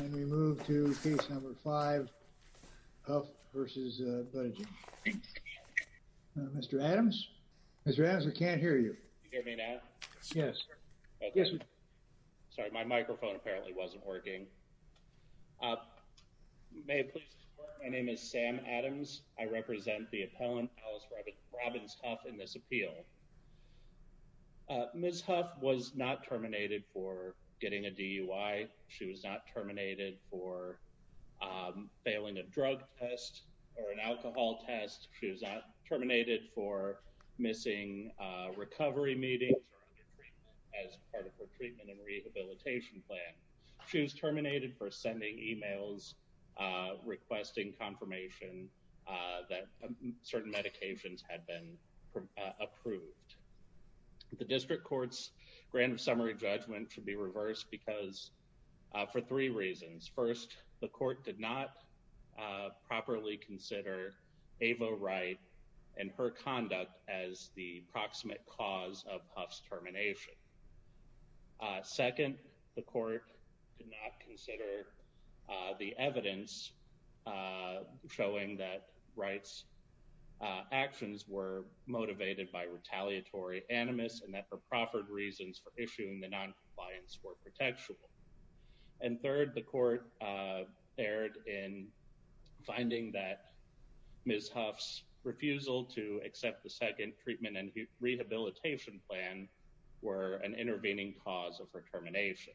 and we move to case number five Huff v. Buttigieg. Mr. Adams? Mr. Adams, we can't hear you. Can you hear me now? Yes. Sorry, my microphone apparently wasn't working. May it please the court, my name is Sam Adams. I represent the appellant Alice Robbins Huff in Appeal. Ms. Huff was not terminated for getting a DUI. She was not terminated for failing a drug test or an alcohol test. She was not terminated for missing recovery meetings as part of her treatment and rehabilitation plan. She was terminated for sending emails requesting confirmation that certain medications had been approved. The district court's grand summary judgment should be reversed because for three reasons. First, the court did not properly consider Ava Wright and her conduct as the proximate cause of Huff's termination. Second, the court did not consider the evidence showing that Wright's actions were motivated by retaliatory animus and that for proffered reasons for issuing the non-compliance were protectable. And third, the court erred in finding that Ms. Huff's refusal to accept the second treatment rehabilitation plan were an intervening cause of her termination.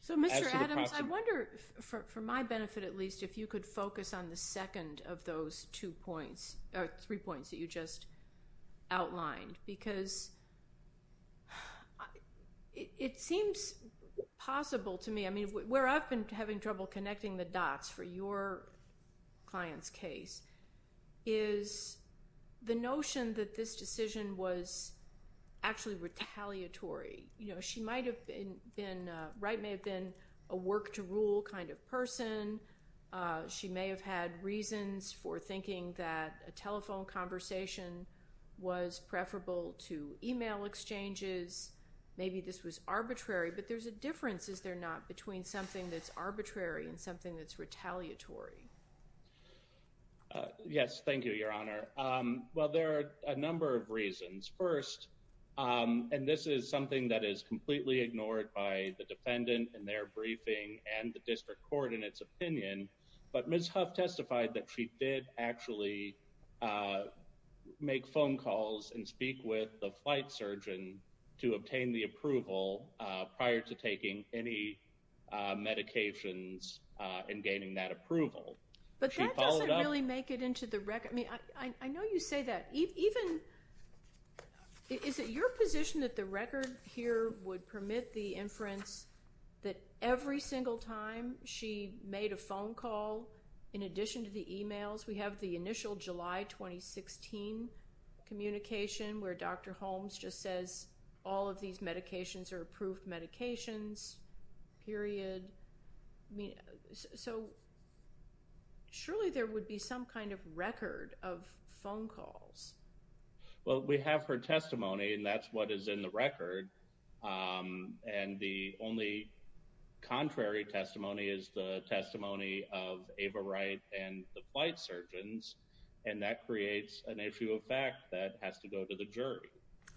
So Mr. Adams, I wonder, for my benefit at least, if you could focus on the second of those three points that you just outlined because it seems possible to me. I mean, where I've been having trouble connecting the dots for your client's case is the notion that this decision was actually retaliatory. You know, she might have been, Wright may have been a work to rule kind of person. She may have had reasons for thinking that a telephone conversation was preferable to email exchanges. Maybe this was arbitrary, but there's a difference, is there not, between something that's arbitrary and something that's retaliatory? Yes, thank you, your honor. Well, there are a number of reasons. First, and this is something that is completely ignored by the defendant in their briefing and the district court in its opinion, but Ms. Huff testified that she did actually make phone calls and speak with the flight surgeon to obtain the approval prior to taking any medications and gaining that approval. But that doesn't really make it into the record. I mean, I know you say that. Is it your position that the record here would permit the inference that every single time she made a phone call in addition to the emails? We have the initial July 2016 communication where Dr. Holmes just says all of these medications are approved medications, period. I mean, so surely there would be some kind of record of phone calls. Well, we have her testimony and that's what is in the record. And the only contrary testimony is the testimony of Ava Wright and the flight surgeon. So we have the fact that she did make the phone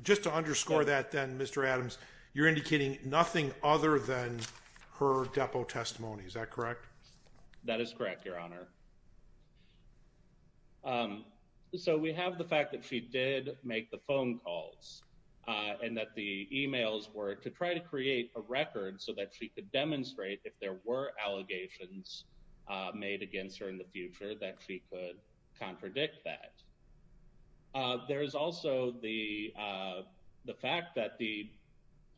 calls and that the emails were to try to create a record so that she could demonstrate if there were allegations made against her in the future that she could contradict that. There is also the fact that the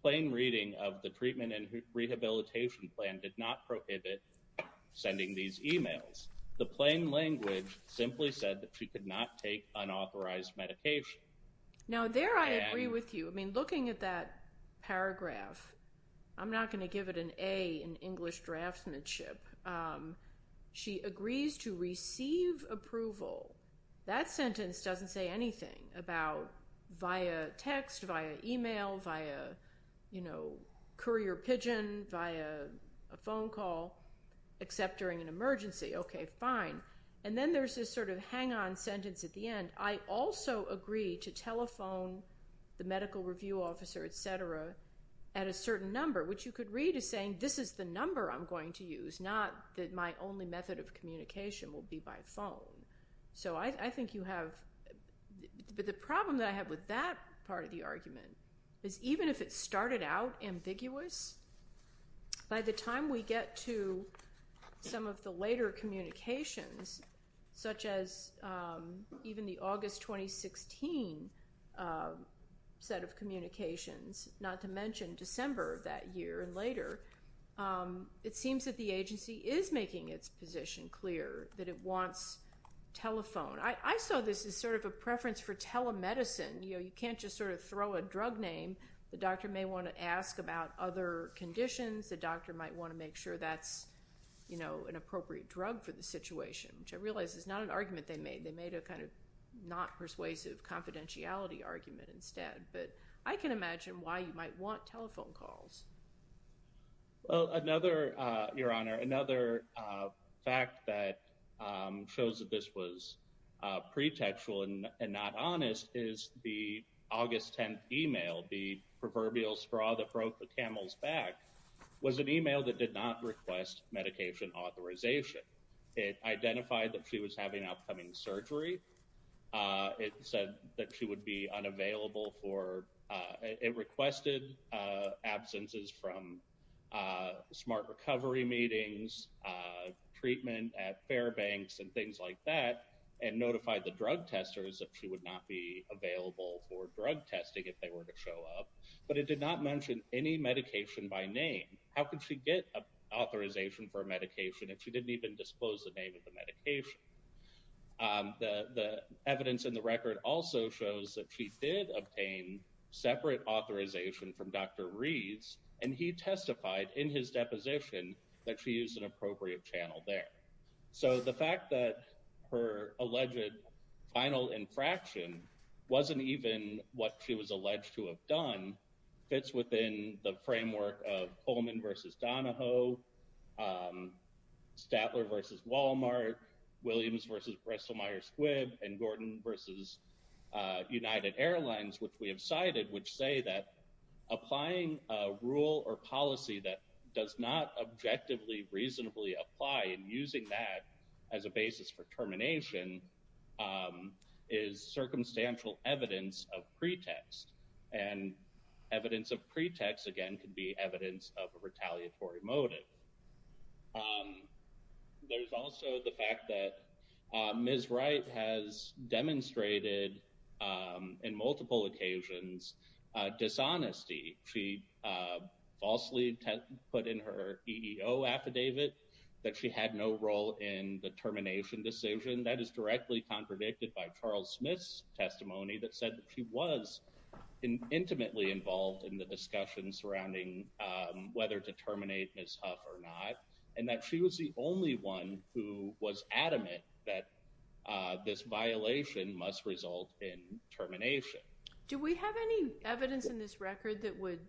plain reading of the treatment and rehabilitation plan did not prohibit sending these emails. The plain language simply said that she could not take unauthorized medication. Now there I agree with you. I mean, looking at that paragraph, I'm not going to give it an A in English draftsmanship. She agrees to receive approval. That sentence doesn't say anything about via text, via email, via courier pigeon, via a phone call, except during an emergency. Okay, fine. And then there's this sort of hang on sentence at the end. I also agree to telephone the medical review officer, et cetera, at a certain number, which you could read as saying this is the number I'm going to get. It's not that my only method of communication will be by phone. So I think you have, but the problem that I have with that part of the argument is even if it started out ambiguous, by the time we get to some of the later communications, such as even the August 2016 set of communications, not to mention December of that year and later, it seems that the agency is making its position clear that it wants telephone. I saw this as sort of a preference for telemedicine. You can't just sort of throw a drug name. The doctor may want to ask about other conditions. The doctor might want to make sure that's an appropriate drug for the situation, which I realize is not an argument they made. They made a kind of not persuasive confidentiality argument instead, but I can imagine why you might want telephone calls. Well, another, Your Honor, another fact that shows that this was pretextual and not honest is the August 10th email, the proverbial straw that broke the camel's back, was an email that did not request medication authorization. It identified that she was having upcoming surgery. It said that she would be unavailable for, it requested absences from smart recovery meetings, treatment at Fairbanks and things like that, and notified the drug testers that she would not be available for drug testing if they were to show up, but it did not mention any medication by name. How could she get authorization for a medication if she didn't even disclose the name of the drug? Evidence in the record also shows that she did obtain separate authorization from Dr. Reeds, and he testified in his deposition that she used an appropriate channel there. So the fact that her alleged final infraction wasn't even what she was alleged to have done fits within the framework of Coleman versus Donahoe, Statler versus Walmart, Williams versus Bristol-Myers Squibb, and Gordon versus United Airlines, which we have cited, which say that applying a rule or policy that does not objectively reasonably apply and using that as a basis for termination is circumstantial evidence of pretext, and evidence of pretext, again, could be evidence of a retaliatory motive. There's also the fact that Ms. Wright has demonstrated, in multiple occasions, dishonesty. She falsely put in her EEO affidavit that she had no role in the termination decision. That is directly contradicted by Charles Smith's testimony that said that she was intimately involved in the discussion surrounding whether to terminate Ms. Huff or not, and that she was the only one who was adamant that this violation must result in termination. Do we have any evidence in this record that would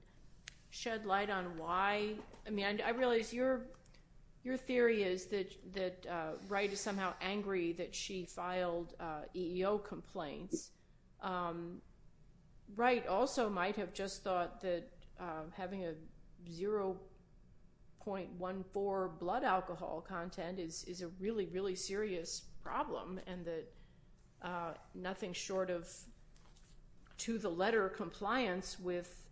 shed light on why? I mean, Ms. Wright also might have just thought that having a 0.14 blood alcohol content is a really, really serious problem, and that nothing short of to-the-letter compliance with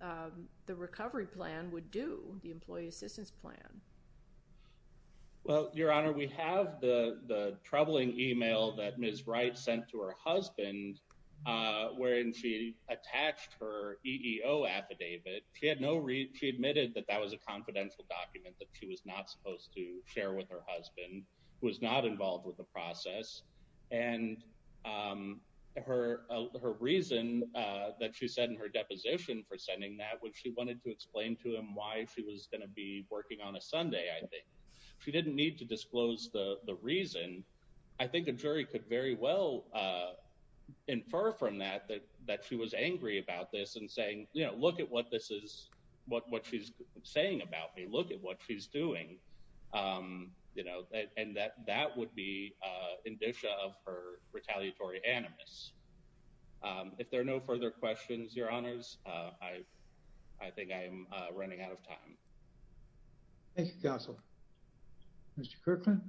the recovery plan would do, the employee assistance plan. Well, Your Honor, we have the troubling email that Ms. Wright sent to her husband, wherein she attached her EEO affidavit. She admitted that that was a confidential document that she was not supposed to share with her husband, was not involved with the process, and her reason that she said in her deposition for sending that was she wanted to explain to I think the jury could very well infer from that that she was angry about this and saying, you know, look at what she's saying about me, look at what she's doing, you know, and that would be indicia of her retaliatory animus. If there are no further questions, Your Honors, I think I am running out of time. Thank you, Counsel. Mr. Kirkland?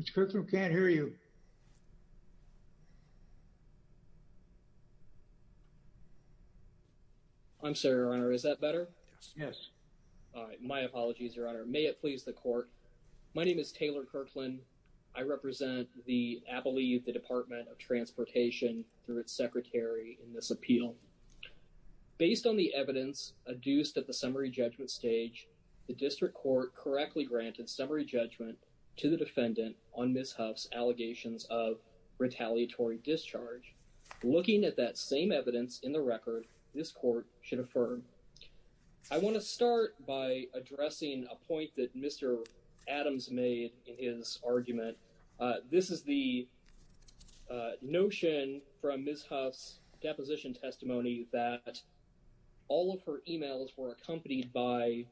Mr. Kirkland, we can't hear you. I'm sorry, Your Honor. Is that better? Yes. All right. My apologies, Your Honor. May it please the Court. My name is Taylor Kirkland. I represent the Appalachee Youth Department of Transportation through its Secretary in this the District Court correctly granted summary judgment to the defendant on Ms. Huff's allegations of retaliatory discharge. Looking at that same evidence in the record, this Court should affirm. I want to start by addressing a point that Mr. Adams made in his argument. This is the first time that Ms. Huff's testimony has been supported by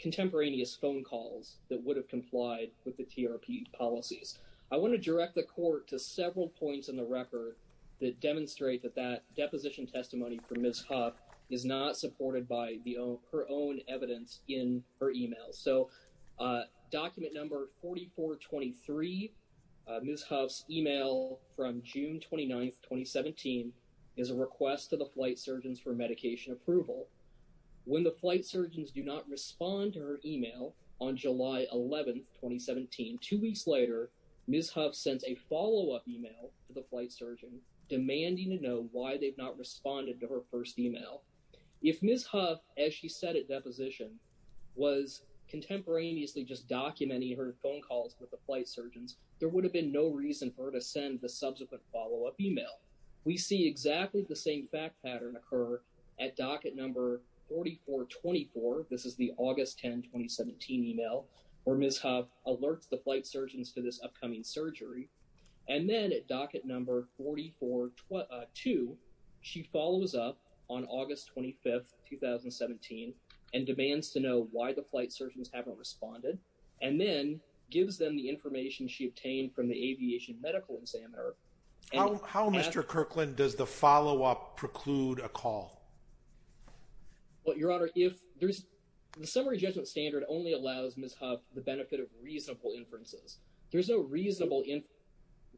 contemporaneous phone calls that would have complied with the TRP policies. I want to direct the Court to several points in the record that demonstrate that that deposition testimony from Ms. Huff is not supported by her own evidence in her email. So document number 4423, Ms. Huff's email from June 29th, 2017, is a request to the Flight Surgeons do not respond to her email on July 11th, 2017. Two weeks later, Ms. Huff sends a follow-up email to the Flight Surgeon demanding to know why they've not responded to her first email. If Ms. Huff, as she said at deposition, was contemporaneously just documenting her phone calls with the Flight Surgeons, there would have been no reason for her to send the subsequent follow-up email. We see exactly the same fact pattern occur at docket number 4424. This is the August 10, 2017 email where Ms. Huff alerts the Flight Surgeons to this upcoming surgery. And then at docket number 4422, she follows up on August 25th, 2017 and demands to know why the Flight Surgeons haven't responded and then gives them the information she obtained from the Aviation Medical Examiner. How, Mr. Kirkland, does the follow-up preclude a call? Well, Your Honor, the summary judgment standard only allows Ms. Huff the benefit of reasonable inferences. There's no reasonable inference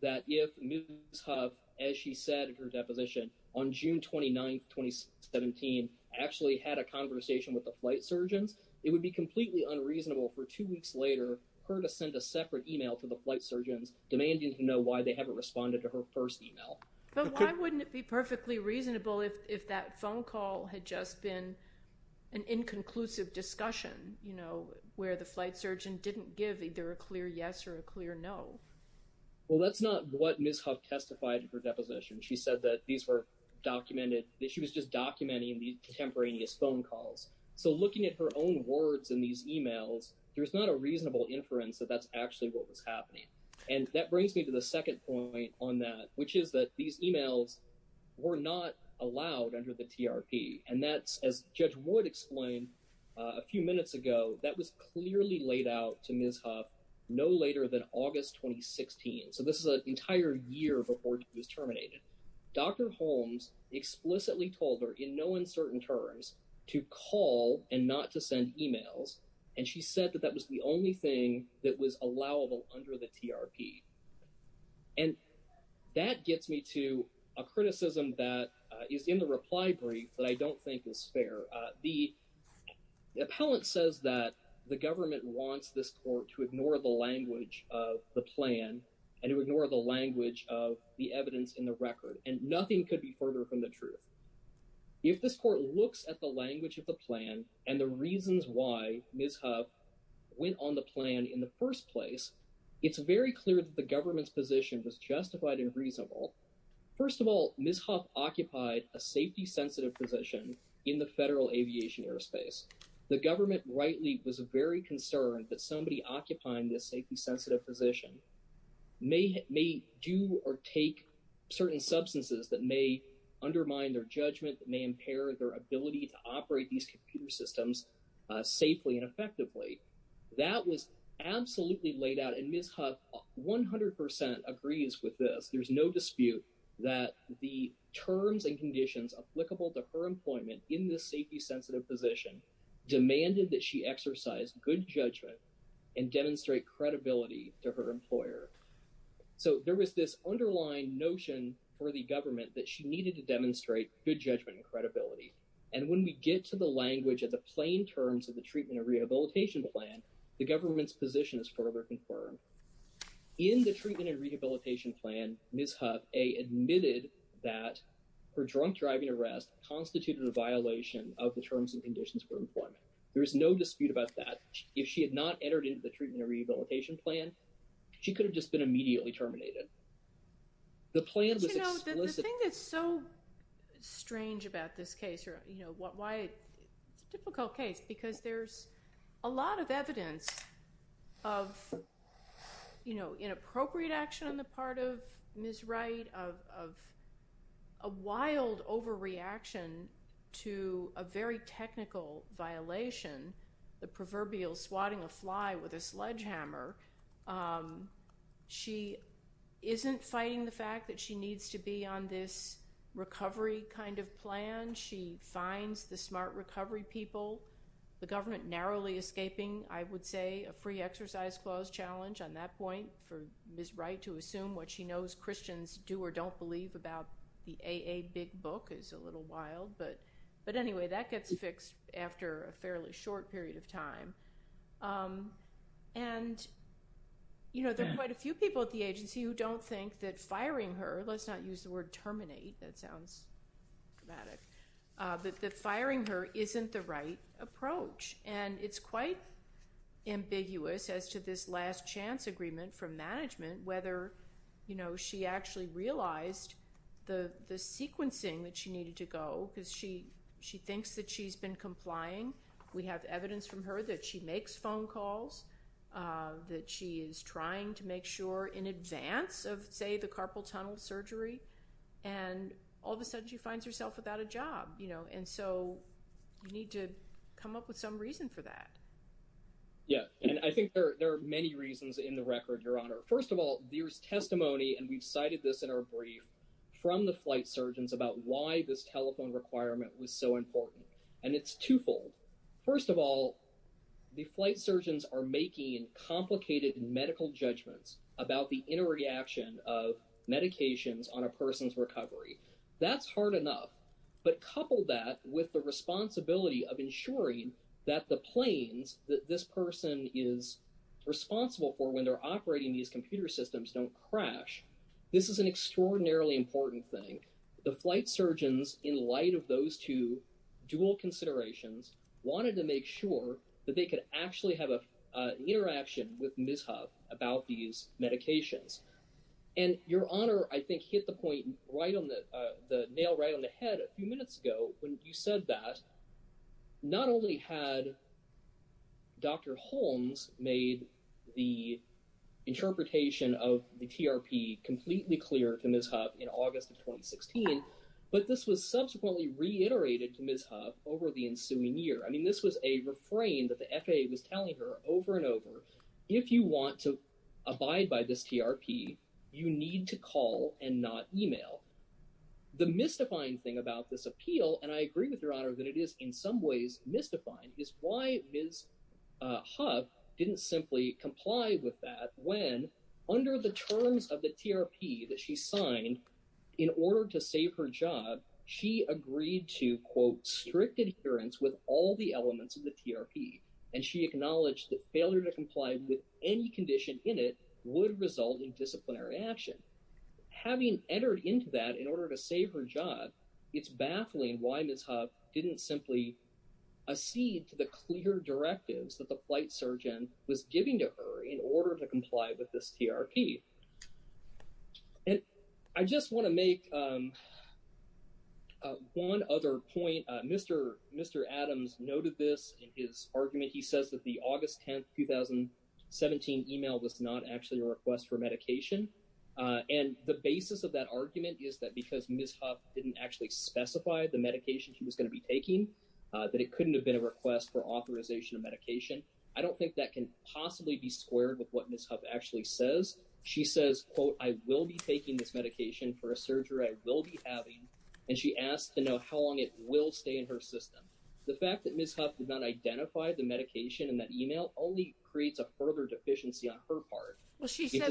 that if Ms. Huff, as she said at her deposition on June 29th, 2017, actually had a conversation with the Flight Surgeons, it would be completely unreasonable for two weeks later for her to send a separate email to the Flight Surgeons and not know why they haven't responded to her first email. But why wouldn't it be perfectly reasonable if that phone call had just been an inconclusive discussion, you know, where the Flight Surgeon didn't give either a clear yes or a clear no? Well, that's not what Ms. Huff testified in her deposition. She said that these were documented, that she was just documenting these contemporaneous phone calls. So looking at her own words in these emails, there's not a reasonable inference that that's actually what was happening. And that brings me to the second point on that, which is that these emails were not allowed under the TRP. And that's, as Judge Wood explained a few minutes ago, that was clearly laid out to Ms. Huff no later than August 2016. So this is an entire year before she was terminated. Dr. Holmes explicitly told her in no uncertain terms to call and not to send emails, and she said that that was the only thing that was allowable under the TRP. And that gets me to a criticism that is in the reply brief that I don't think is fair. The appellant says that the government wants this court to ignore the language of the plan and to ignore the language of the evidence in the record, and nothing could be further from the truth. If this court looks at the language of the plan and the reasons why Ms. Huff went on the plan in the first place, it's very clear that the government's position was justified and reasonable. First of all, Ms. Huff occupied a safety-sensitive position in the federal aviation airspace. The government rightly was very concerned that somebody occupying this safety-sensitive position may do or take certain substances that may undermine their judgment, that may impair their ability to operate these computer systems safely and effectively. That was absolutely laid out, and Ms. Huff 100% agrees with this. There's no dispute that the terms and conditions applicable to her employment in this safety-sensitive position demanded that she exercise good judgment and demonstrate credibility to her employer. So there was this underlying notion for the government that she needed to demonstrate good judgment and credibility, and when we get to the language of the plain terms of the Treatment and Rehabilitation Plan, the government's position is further confirmed. In the Treatment and Rehabilitation Plan, Ms. Huff admitted that her drunk driving arrest constituted a violation of the terms and conditions for employment. There is no dispute about that. If she had not entered into the Treatment and Rehabilitation Plan, she could have just been immediately terminated. The plan was explicit. You know, the thing that's so strange about this case, or you know, why it's a difficult case, because there's a lot of evidence of, you know, inappropriate action on the part of Ms. Wright, of a wild overreaction to a very technical violation, the proverbial swatting a fly with a sledgehammer. She isn't fighting the fact that she needs to be on this recovery kind of plan. She finds the smart recovery people, the government narrowly escaping, I would say, a free exercise clause challenge on that point. For Ms. Wright to assume what she knows Christians do or don't believe about the AA Big Book is a little wild, but anyway, that gets fixed after a fairly short period of time. And, you know, there are quite a few people at the agency who don't think that firing her, let's not use the word terminate, that sounds dramatic, but that firing her isn't the right approach. And it's quite ambiguous as to this last chance agreement from management, whether, you know, she actually realized the sequencing that she needed to go, because she thinks that she's been complying. We have evidence from her that she makes phone calls, that she is trying to make sure in advance of, say, the carpal tunnel surgery, and all of a sudden she finds herself without a job, you know, and so you need to come up with some reason for that. Yeah, and I think there are many reasons in the record, Your Honor. First of all, there's testimony, and we've cited this in our brief, from the flight surgeons about why this telephone requirement was so important, and it's twofold. First of all, the flight surgeons are making complicated medical judgments about the inner reaction of medications on a person's recovery. That's hard enough, but couple that with the responsibility of ensuring that the planes that this person is responsible for when they're operating these computer systems don't crash. This is an extraordinarily important thing. The flight surgeons, in light of those two dual considerations, wanted to make sure that they could actually have a interaction with Ms. Hough about these medications, and Your Honor, I think, hit the point right on the nail right on the head a few minutes ago when you said that not only had Dr. Holmes made the interpretation of the TRP completely clear to Ms. Hough in August of 2016, but this was subsequently reiterated to Ms. Hough over the ensuing year. I mean, this was a refrain that the FAA was telling her over and over, if you want to abide by this TRP, you need to call and not email. The mystifying thing about this appeal, and I agree with Your Honor that it is in some ways mystifying, is why Ms. Hough didn't simply comply with that when, under the terms of the TRP that she signed, in order to save her job, she agreed to, quote, strict adherence with all the elements of the TRP, and she acknowledged that failure to comply with any condition in it would result in disciplinary action. Having entered into that in order to save her job, it's baffling why Ms. Hough didn't simply accede to the clear directives that the flight surgeon was giving to her in order to comply with this TRP. I just want to make one other point. Mr. Adams noted this in his argument. He says that the August 10, 2017 email was not actually a request for medication, and the basis of that argument is that because Ms. Hough didn't actually specify the medication she was going to be taking, that it couldn't have been a request for authorization of medication. I don't think that can possibly be squared with what Ms. Hough actually says. She says, quote, I will be taking this medication for a surgery I will be having, and she asked to know how long it will stay in her system. The fact that Ms. Hough did not identify the medication in that email only creates a further deficiency on her part. Well,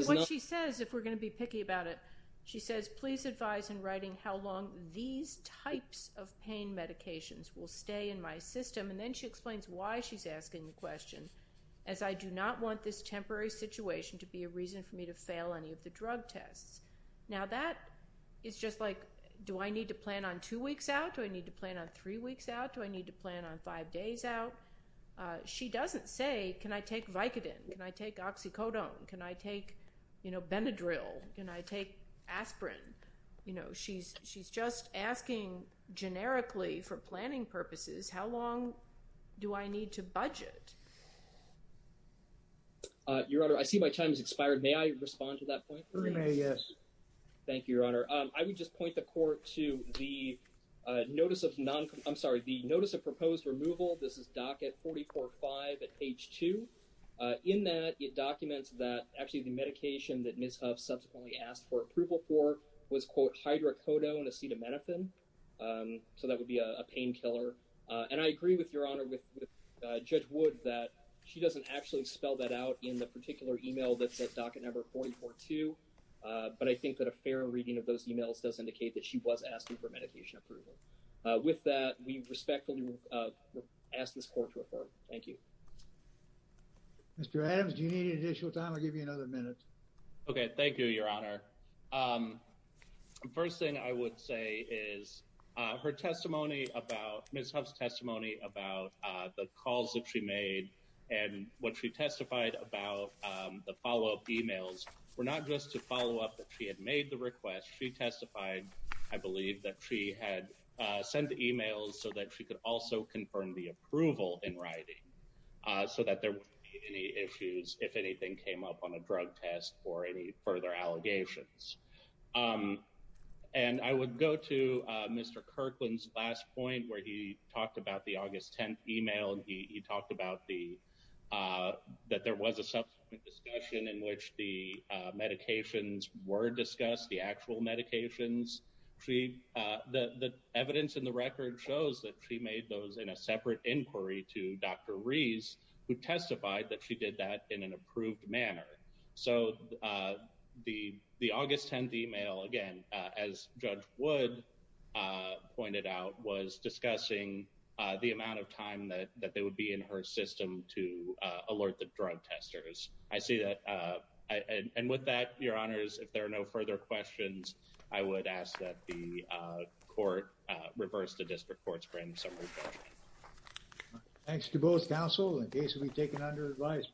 what she says, if we're going to be picky about it, she says, please advise in writing how long these types of pain medications will stay in my system, and then she explains why she's asking the question, as I do not want this temporary situation to be a reason for me to fail any of the drug tests. Now that is just like, do I need to plan on two weeks out? Do I need to plan on three weeks out? Do I need to plan on five days out? She doesn't say, can I take Vicodin? Can I take Oxycodone? Can I take, you know, Benadryl? Can I take aspirin? You know, she's just asking generically for planning purposes, how long do I need to budget? Your Honor, I see my time has expired. May I respond to that point? You may, yes. Thank you, Your Honor. I would just point the court to the notice of, I'm sorry, the notice of proposed removal. This is docket 44-5 at page 2. In that, it documents that actually the medication that Ms. Huff subsequently asked for approval for was, quote, hydrocodone acetaminophen, so that would be a pain killer. And I agree with Your Honor, with Judge Wood, that she doesn't actually spell that out in the particular email that's at docket number 44-2, but I think that a fair reading of those emails does indicate that she was asking for medication approval. With that, we respectfully ask this court to affirm. Thank you. Mr. Adams, do you need additional time? I'll give you another minute. Okay, thank you, Your Honor. First thing I would say is her testimony about, Ms. Huff's testimony about the calls that she made and what she testified about the follow-up emails were not just to follow up that she had made the request. She testified, I believe, that she had sent the emails so that she could also confirm the approval in writing so that there wouldn't be any issues if anything came up on a drug test or any further allegations. And I would go to Mr. Kirkland's last point where he talked about the August 10th email, and he talked about that there was a subsequent discussion in which the medications were discussed, the actual medications. The evidence in the record shows that she made those in a Dr. Reese, who testified that she did that in an approved manner. So, the August 10th email, again, as Judge Wood pointed out, was discussing the amount of time that they would be in her system to alert the drug testers. I see that. And with that, Your Honors, if there are no further questions, I would ask that the court reverse the district court's branding summary. Thanks to both counsel in case we've taken under advisement.